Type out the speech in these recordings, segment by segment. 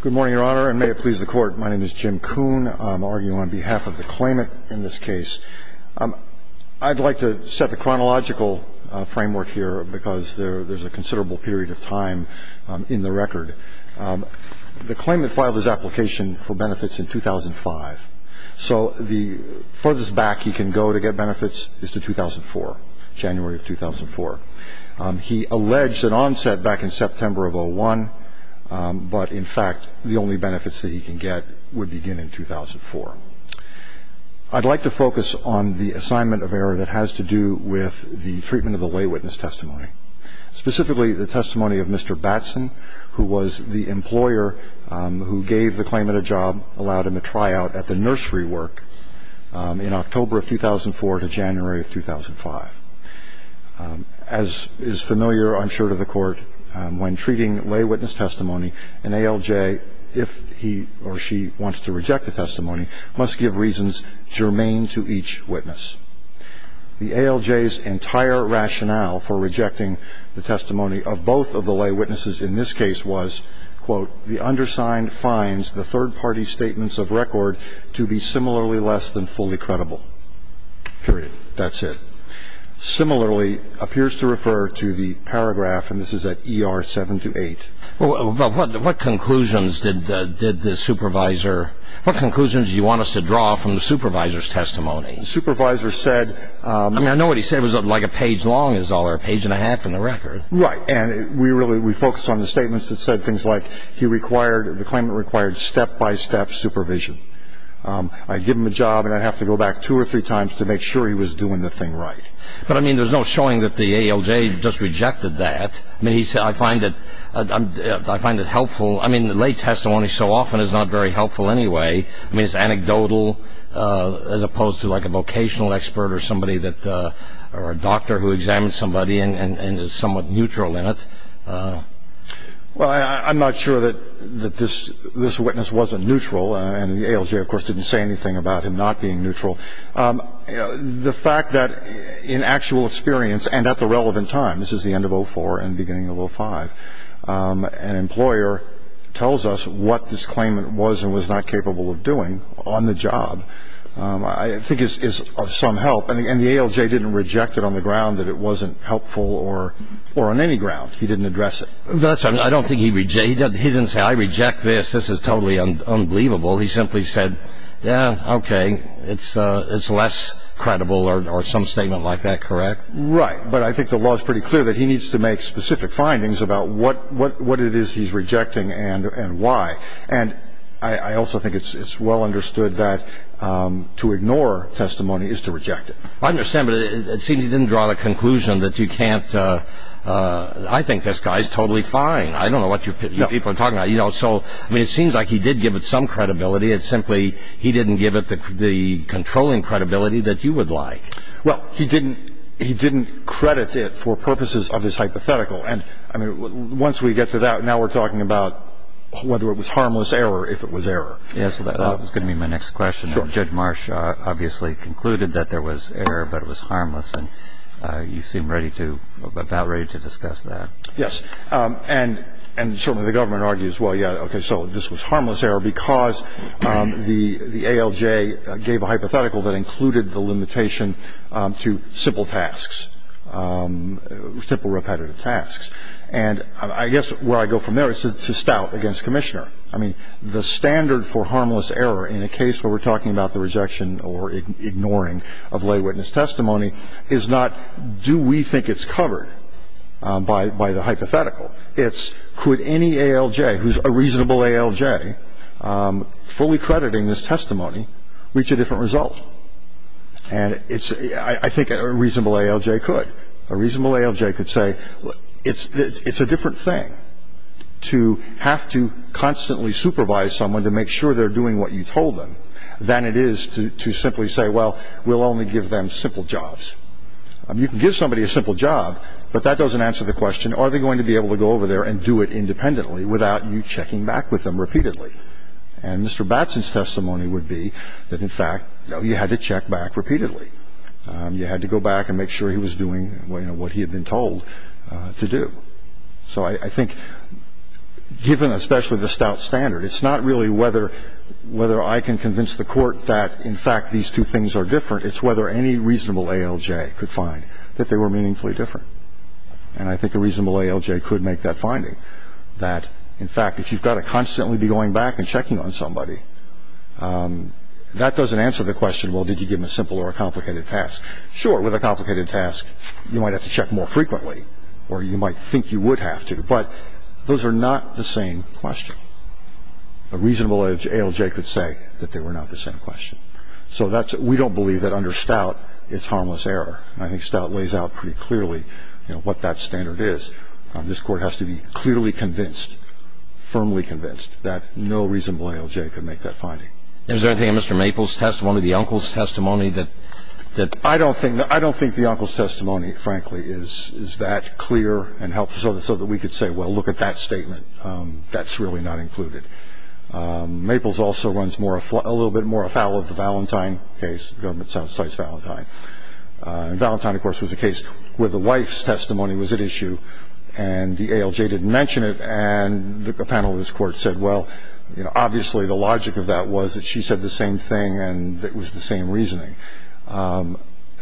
Good morning, Your Honor, and may it please the Court. My name is Jim Kuhn. I'm arguing on behalf of the claimant in this case. I'd like to set the chronological framework here because there's a considerable period of time in the record. The claimant filed his application for benefits in 2005, so the furthest back he can go to get benefits is to 2004, January of 2004. He alleged an onset back in September of 2001, but, in fact, the only benefits that he can get would begin in 2004. I'd like to focus on the assignment of error that has to do with the treatment of the lay witness testimony, specifically the testimony of Mr. Batson, who was the employer who gave the claimant a job, allowed him a tryout at the nursery work in October of 2004 to January of 2005. As is familiar, I'm sure, to the Court, when treating lay witness testimony, an ALJ, if he or she wants to reject the testimony, must give reasons germane to each witness. The ALJ's entire rationale for rejecting the testimony of both of the lay witnesses in this case was, quote, the undersigned finds the third-party statements of record to be similarly less than fully credible, period. That's it. Similarly, appears to refer to the paragraph, and this is at ER 728. Well, what conclusions did the supervisor – what conclusions do you want us to draw from the supervisor's testimony? The supervisor said – I mean, I know what he said was like a page long is all, or a page and a half in the record. Right. And we really – we focused on the statements that said things like he required – the claimant required step-by-step supervision. I'd give him a job, and I'd have to go back two or three times to make sure he was doing the thing right. But, I mean, there's no showing that the ALJ just rejected that. I mean, I find it helpful – I mean, lay testimony so often is not very helpful anyway. I mean, it's anecdotal as opposed to like a vocational expert or somebody that – or a doctor who examines somebody and is somewhat neutral in it. Well, I'm not sure that this witness wasn't neutral, and the ALJ, of course, didn't say anything about him not being neutral. The fact that in actual experience and at the relevant time – this is the end of 04 and beginning of 05 – an employer tells us what this claimant was and was not capable of doing on the job I think is of some help. And the ALJ didn't reject it on the ground that it wasn't helpful or on any ground. He didn't address it. That's right. I don't think he – he didn't say, I reject this. This is totally unbelievable. He simply said, yeah, okay, it's less credible or some statement like that, correct? Right, but I think the law is pretty clear that he needs to make specific findings about what it is he's rejecting and why. And I also think it's well understood that to ignore testimony is to reject it. I understand, but it seems he didn't draw the conclusion that you can't – I think this guy is totally fine. I don't know what you people are talking about. You know, so, I mean, it seems like he did give it some credibility. It's simply he didn't give it the controlling credibility that you would like. Well, he didn't – he didn't credit it for purposes of his hypothetical. And, I mean, once we get to that, now we're talking about whether it was harmless error if it was error. Yes, that was going to be my next question. Judge Marsh obviously concluded that there was error, but it was harmless. And you seem ready to – about ready to discuss that. Yes. And certainly the government argues, well, yeah, okay, so this was harmless error because the ALJ gave a hypothetical that included the limitation to simple tasks, simple repetitive tasks. And I guess where I go from there is to stout against Commissioner. I mean, the standard for harmless error in a case where we're talking about the rejection or ignoring of lay witness testimony is not do we think it's covered by the hypothetical. It's could any ALJ who's a reasonable ALJ fully crediting this testimony reach a different result. And it's – I think a reasonable ALJ could. A reasonable ALJ could say it's a different thing to have to constantly supervise someone to make sure they're doing what you told them than it is to simply say, well, we'll only give them simple jobs. You can give somebody a simple job, but that doesn't answer the question are they going to be able to go over there and do it independently without you checking back with them repeatedly. And Mr. Batson's testimony would be that, in fact, no, you had to check back repeatedly. You had to go back and make sure he was doing what he had been told to do. So I think given especially the stout standard, it's not really whether I can convince the Court that, in fact, these two things are different. It's whether any reasonable ALJ could find that they were meaningfully different. And I think a reasonable ALJ could make that finding that, in fact, if you've got to constantly be going back and checking on somebody, that doesn't answer the question, well, did you give them a simple or a complicated task. Sure, with a complicated task, you might have to check more frequently or you might think you would have to. But those are not the same question. A reasonable ALJ could say that they were not the same question. So that's – we don't believe that under stout it's harmless error. I think stout lays out pretty clearly, you know, what that standard is. This Court has to be clearly convinced, firmly convinced, that no reasonable ALJ could make that finding. Is there anything in Mr. Maples' testimony, the uncle's testimony, that – I don't think – I don't think the uncle's testimony, frankly, is that clear and helpful, so that we could say, well, look at that statement. That's really not included. Maples also runs a little bit more afoul of the Valentine case. The government cites Valentine. And Valentine, of course, was a case where the wife's testimony was at issue and the ALJ didn't mention it. And the panel of this Court said, well, you know, obviously the logic of that was that she said the same thing and it was the same reasoning.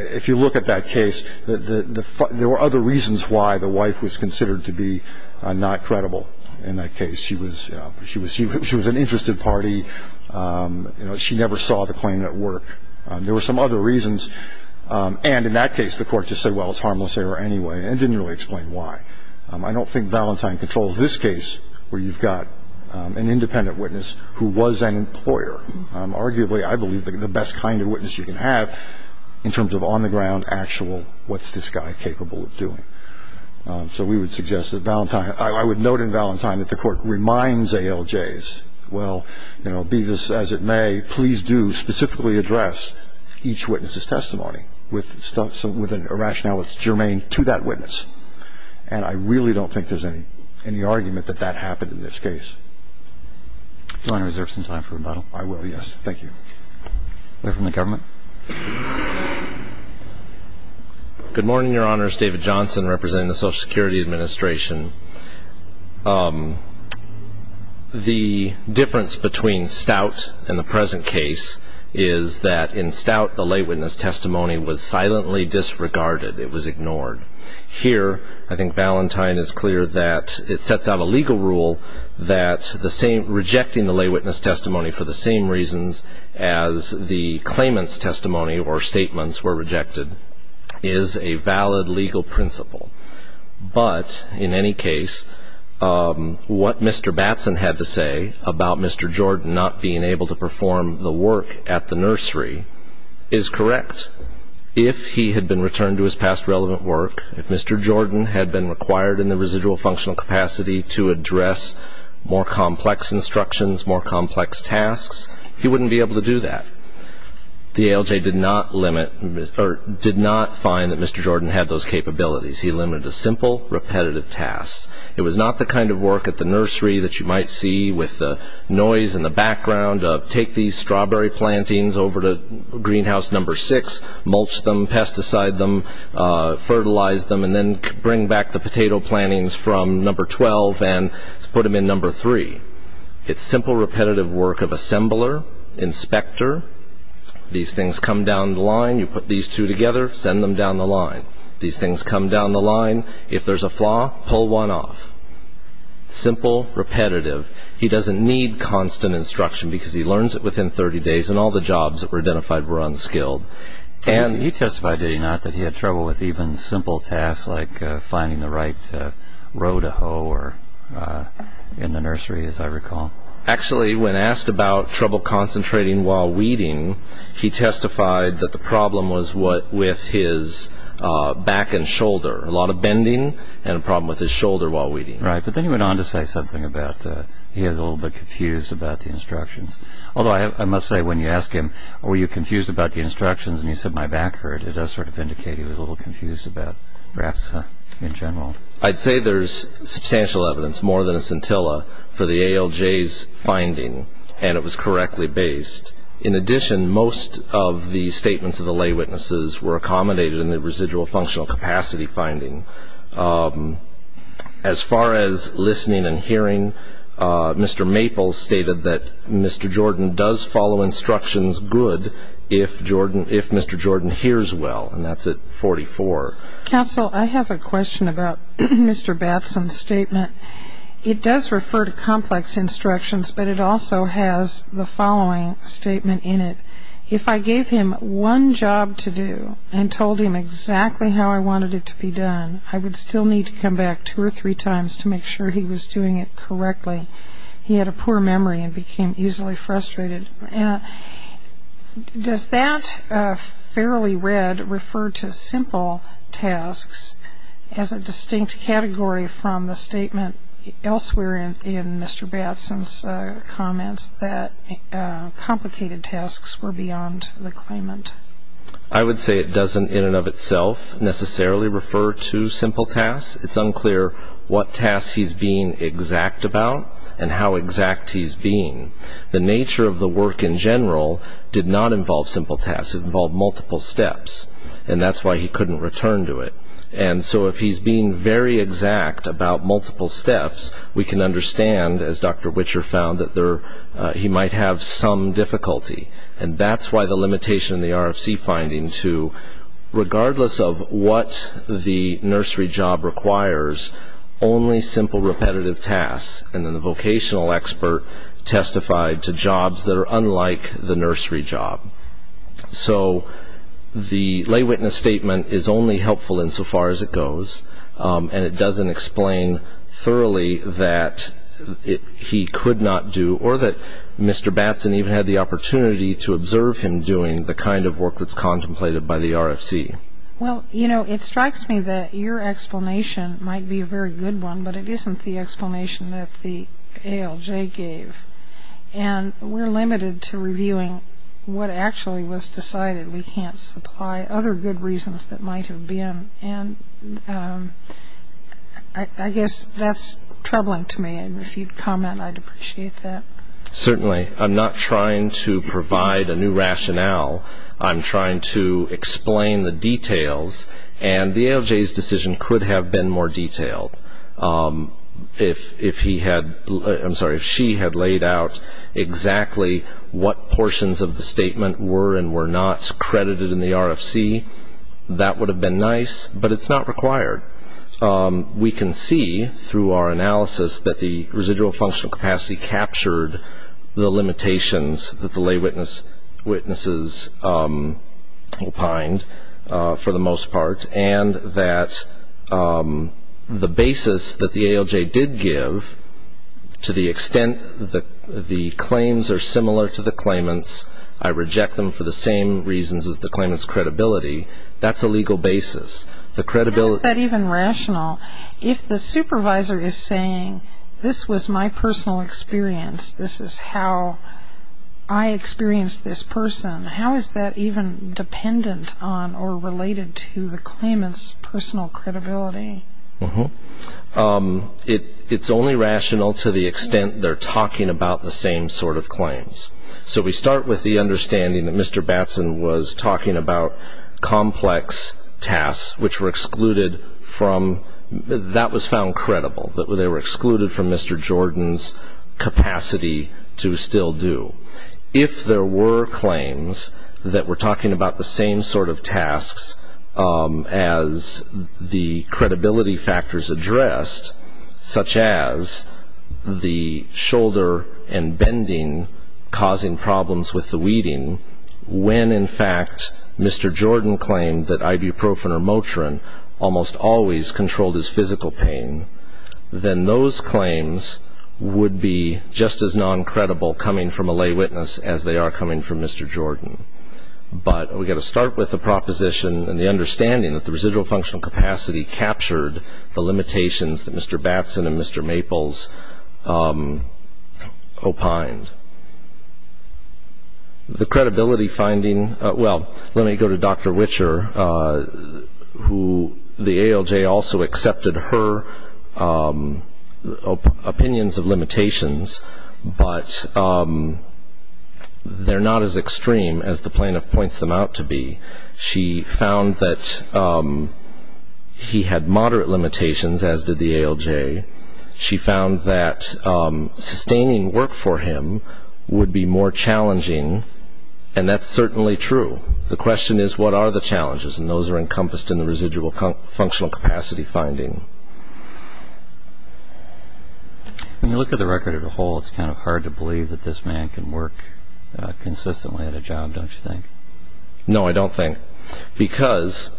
If you look at that case, there were other reasons why the wife was considered to be not credible in that case. She was, you know, she was an interested party. You know, she never saw the claimant at work. There were some other reasons. And in that case, the Court just said, well, it's harmless error anyway, and didn't really explain why. I don't think Valentine controls this case where you've got an independent witness who was an employer. Arguably, I believe the best kind of witness you can have in terms of on-the-ground, actual, what's this guy capable of doing. So we would suggest that Valentine – I would note in Valentine that the Court reminds ALJs, well, you know, be this as it may, please do specifically address each witness's testimony with a rationale that's germane to that witness. And I really don't think there's any argument that that happened in this case. Do you want to reserve some time for rebuttal? I will, yes. Thank you. We'll hear from the government. Good morning, Your Honors. David Johnson representing the Social Security Administration. The difference between Stout and the present case is that in Stout, the lay witness testimony was silently disregarded. It was ignored. Here, I think Valentine is clear that it sets out a legal rule that rejecting the lay witness testimony for the same reasons as the claimant's testimony or statements were rejected is a valid legal principle. But in any case, what Mr. Batson had to say about Mr. Jordan not being able to perform the work at the nursery is correct. If he had been returned to his past relevant work, if Mr. Jordan had been required in the residual functional capacity to address more complex instructions, more complex tasks, he wouldn't be able to do that. The ALJ did not find that Mr. Jordan had those capabilities. He limited to simple, repetitive tasks. It was not the kind of work at the nursery that you might see with the noise in the background of take these strawberry plantings over to greenhouse number six, mulch them, pesticide them, fertilize them, and then bring back the potato plantings from number 12 and put them in number three. It's simple, repetitive work of assembler, inspector. These things come down the line. You put these two together, send them down the line. These things come down the line. If there's a flaw, pull one off. Simple, repetitive. He doesn't need constant instruction because he learns it within 30 days, and all the jobs that were identified were unskilled. He testified, did he not, that he had trouble with even simple tasks like finding the right row to hoe in the nursery, as I recall. Actually, when asked about trouble concentrating while weeding, he testified that the problem was with his back and shoulder, a lot of bending and a problem with his shoulder while weeding. Right, but then he went on to say something about he was a little bit confused about the instructions. Although I must say, when you ask him, were you confused about the instructions, and he said, my back hurt, it does sort of indicate he was a little confused about graphs in general. I'd say there's substantial evidence, more than a scintilla, for the ALJ's finding, and it was correctly based. In addition, most of the statements of the lay witnesses were accommodated in the residual functional capacity finding. As far as listening and hearing, Mr. Maples stated that Mr. Jordan does follow instructions good if Mr. Jordan hears well, and that's at 44. Counsel, I have a question about Mr. Batson's statement. It does refer to complex instructions, but it also has the following statement in it. If I gave him one job to do and told him exactly how I wanted it to be done, I would still need to come back two or three times to make sure he was doing it correctly. He had a poor memory and became easily frustrated. Does that, fairly read, refer to simple tasks as a distinct category from the statement elsewhere in Mr. Batson's comments that complicated tasks were beyond the claimant? I would say it doesn't, in and of itself, necessarily refer to simple tasks. It's unclear what tasks he's being exact about and how exact he's being. The nature of the work in general did not involve simple tasks. It involved multiple steps, and that's why he couldn't return to it. And so if he's being very exact about multiple steps, we can understand, as Dr. Witcher found, that he might have some difficulty. And that's why the limitation in the RFC finding to, regardless of what the nursery job requires, only simple repetitive tasks. And then the vocational expert testified to jobs that are unlike the nursery job. So the lay witness statement is only helpful insofar as it goes, and it doesn't explain thoroughly that he could not do or that Mr. Batson even had the opportunity to observe him doing the kind of work that's contemplated by the RFC. Well, you know, it strikes me that your explanation might be a very good one, but it isn't the explanation that the ALJ gave. And we're limited to reviewing what actually was decided. We can't supply other good reasons that might have been. And I guess that's troubling to me, and if you'd comment, I'd appreciate that. Certainly. I'm not trying to provide a new rationale. I'm trying to explain the details, and the ALJ's decision could have been more detailed. If he had laid out exactly what portions of the statement were and were not credited in the RFC, that would have been nice, but it's not required. We can see through our analysis that the residual functional capacity captured the limitations that the lay witnesses opined, for the most part, and that the basis that the ALJ did give to the extent that the claims are similar to the claimants, I reject them for the same reasons as the claimants' credibility, that's a legal basis. How is that even rational? If the supervisor is saying, this was my personal experience, this is how I experienced this person, how is that even dependent on or related to the claimants' personal credibility? It's only rational to the extent they're talking about the same sort of claims. So we start with the understanding that Mr. Batson was talking about complex tasks, which were excluded from, that was found credible, that they were excluded from Mr. Jordan's capacity to still do. If there were claims that were talking about the same sort of tasks as the credibility factors addressed, such as the shoulder and bending causing problems with the weeding, when in fact Mr. Jordan claimed that ibuprofen or Motrin almost always controlled his physical pain, then those claims would be just as non-credible coming from a lay witness as they are coming from Mr. Jordan. But we've got to start with the proposition and the understanding that the residual functional capacity captured the limitations that Mr. Batson and Mr. Maples opined. The credibility finding, well, let me go to Dr. Witcher, who the ALJ also accepted her opinions of limitations, but they're not as extreme as the plaintiff points them out to be. She found that he had moderate limitations, as did the ALJ. She found that sustaining work for him would be more challenging, and that's certainly true. The question is what are the challenges, and those are encompassed in the residual functional capacity finding. When you look at the record as a whole, it's kind of hard to believe that this man can work consistently at a job, don't you think? No, I don't think, because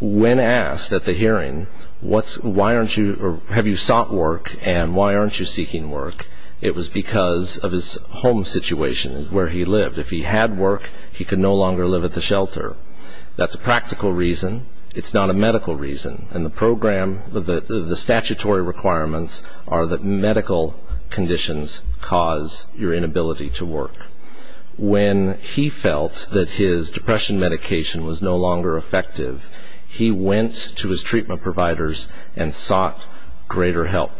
when asked at the hearing, have you sought work and why aren't you seeking work, it was because of his home situation, where he lived. If he had work, he could no longer live at the shelter. That's a practical reason. It's not a medical reason. The statutory requirements are that medical conditions cause your inability to work. When he felt that his depression medication was no longer effective, he went to his treatment providers and sought greater help,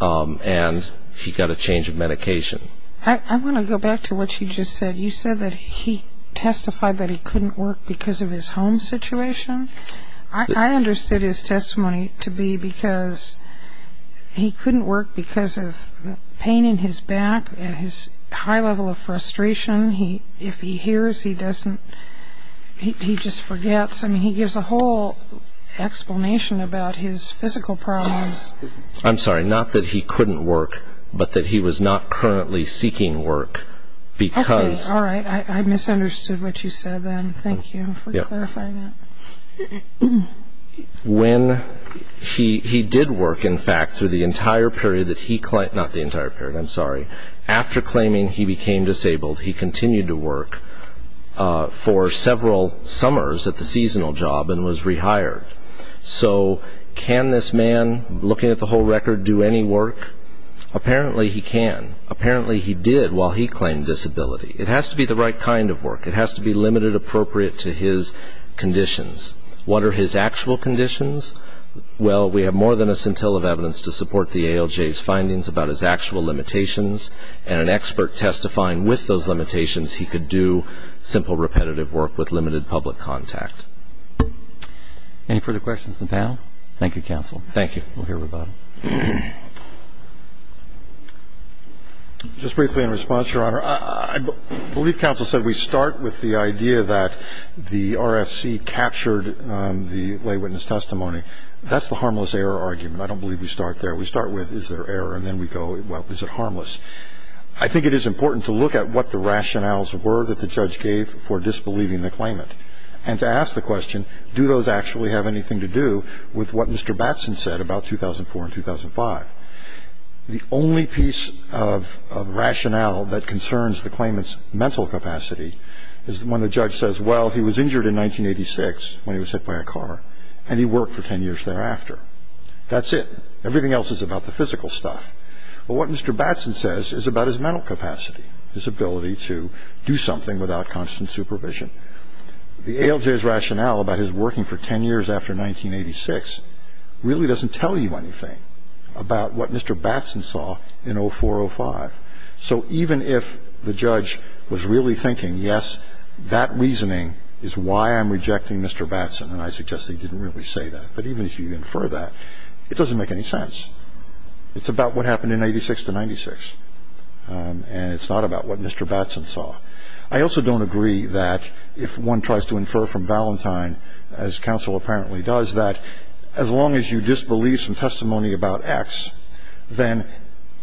and he got a change of medication. I want to go back to what you just said. You said that he testified that he couldn't work because of his home situation. I understood his testimony to be because he couldn't work because of pain in his back and his high level of frustration. If he hears, he doesn't he just forgets. I mean, he gives a whole explanation about his physical problems. I'm sorry, not that he couldn't work, but that he was not currently seeking work because. Okay, all right. I misunderstood what you said then. Thank you for clarifying that. When he did work, in fact, through the entire period that he claimed, not the entire period, I'm sorry. After claiming he became disabled, he continued to work for several summers at the seasonal job and was rehired. So can this man, looking at the whole record, do any work? Apparently he can. Apparently he did while he claimed disability. It has to be the right kind of work. It has to be limited appropriate to his conditions. What are his actual conditions? Well, we have more than a scintilla of evidence to support the ALJ's findings about his actual limitations. And an expert testifying with those limitations, he could do simple repetitive work with limited public contact. Any further questions of the panel? Thank you, counsel. Thank you. We'll hear from Bob. Just briefly in response, Your Honor, I believe counsel said we start with the idea that the RFC captured the lay witness testimony. That's the harmless error argument. I don't believe we start there. We start with is there error, and then we go, well, is it harmless? I think it is important to look at what the rationales were that the judge gave for disbelieving the claimant. And to ask the question, do those actually have anything to do with what Mr. Batson said about 2004 and 2005? The only piece of rationale that concerns the claimant's mental capacity is when the judge says, well, he was injured in 1986 when he was hit by a car, and he worked for 10 years thereafter. That's it. Everything else is about the physical stuff. But what Mr. Batson says is about his mental capacity, his ability to do something without constant supervision. The ALJ's rationale about his working for 10 years after 1986 really doesn't tell you anything about what Mr. Batson saw in 2004, 2005. So even if the judge was really thinking, yes, that reasoning is why I'm rejecting Mr. Batson, and I suggest he didn't really say that, but even if you infer that, it doesn't make any sense. It's about what happened in 1986 to 1996. And it's not about what Mr. Batson saw. I also don't agree that if one tries to infer from Valentine, as counsel apparently does, that as long as you disbelieve some testimony about X, then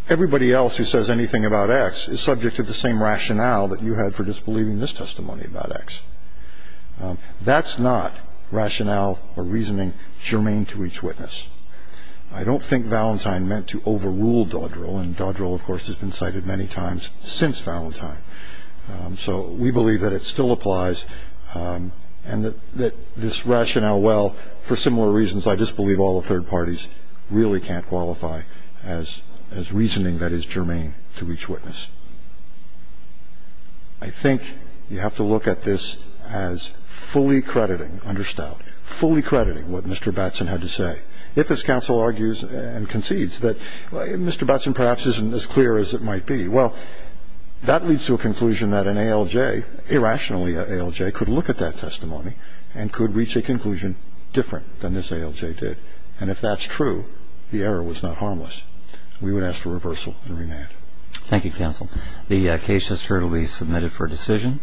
everybody else who says anything about X is subject to the same rationale that you had for disbelieving this testimony about X. That's not rationale or reasoning germane to each witness. I don't think Valentine meant to overrule Dodrell, and Dodrell, of course, has been cited many times since Valentine. So we believe that it still applies, and that this rationale, well, for similar reasons, I just believe all the third parties really can't qualify as reasoning that is germane to each witness. I think you have to look at this as fully crediting, understood, fully crediting what Mr. Batson had to say. If this counsel argues and concedes that Mr. Batson perhaps isn't as clear as it might be, well, that leads to a conclusion that an ALJ, irrationally an ALJ, could look at that testimony and could reach a conclusion different than this ALJ did. And if that's true, the error was not harmless. We would ask for reversal and remand. Thank you, counsel. The case is currently submitted for decision.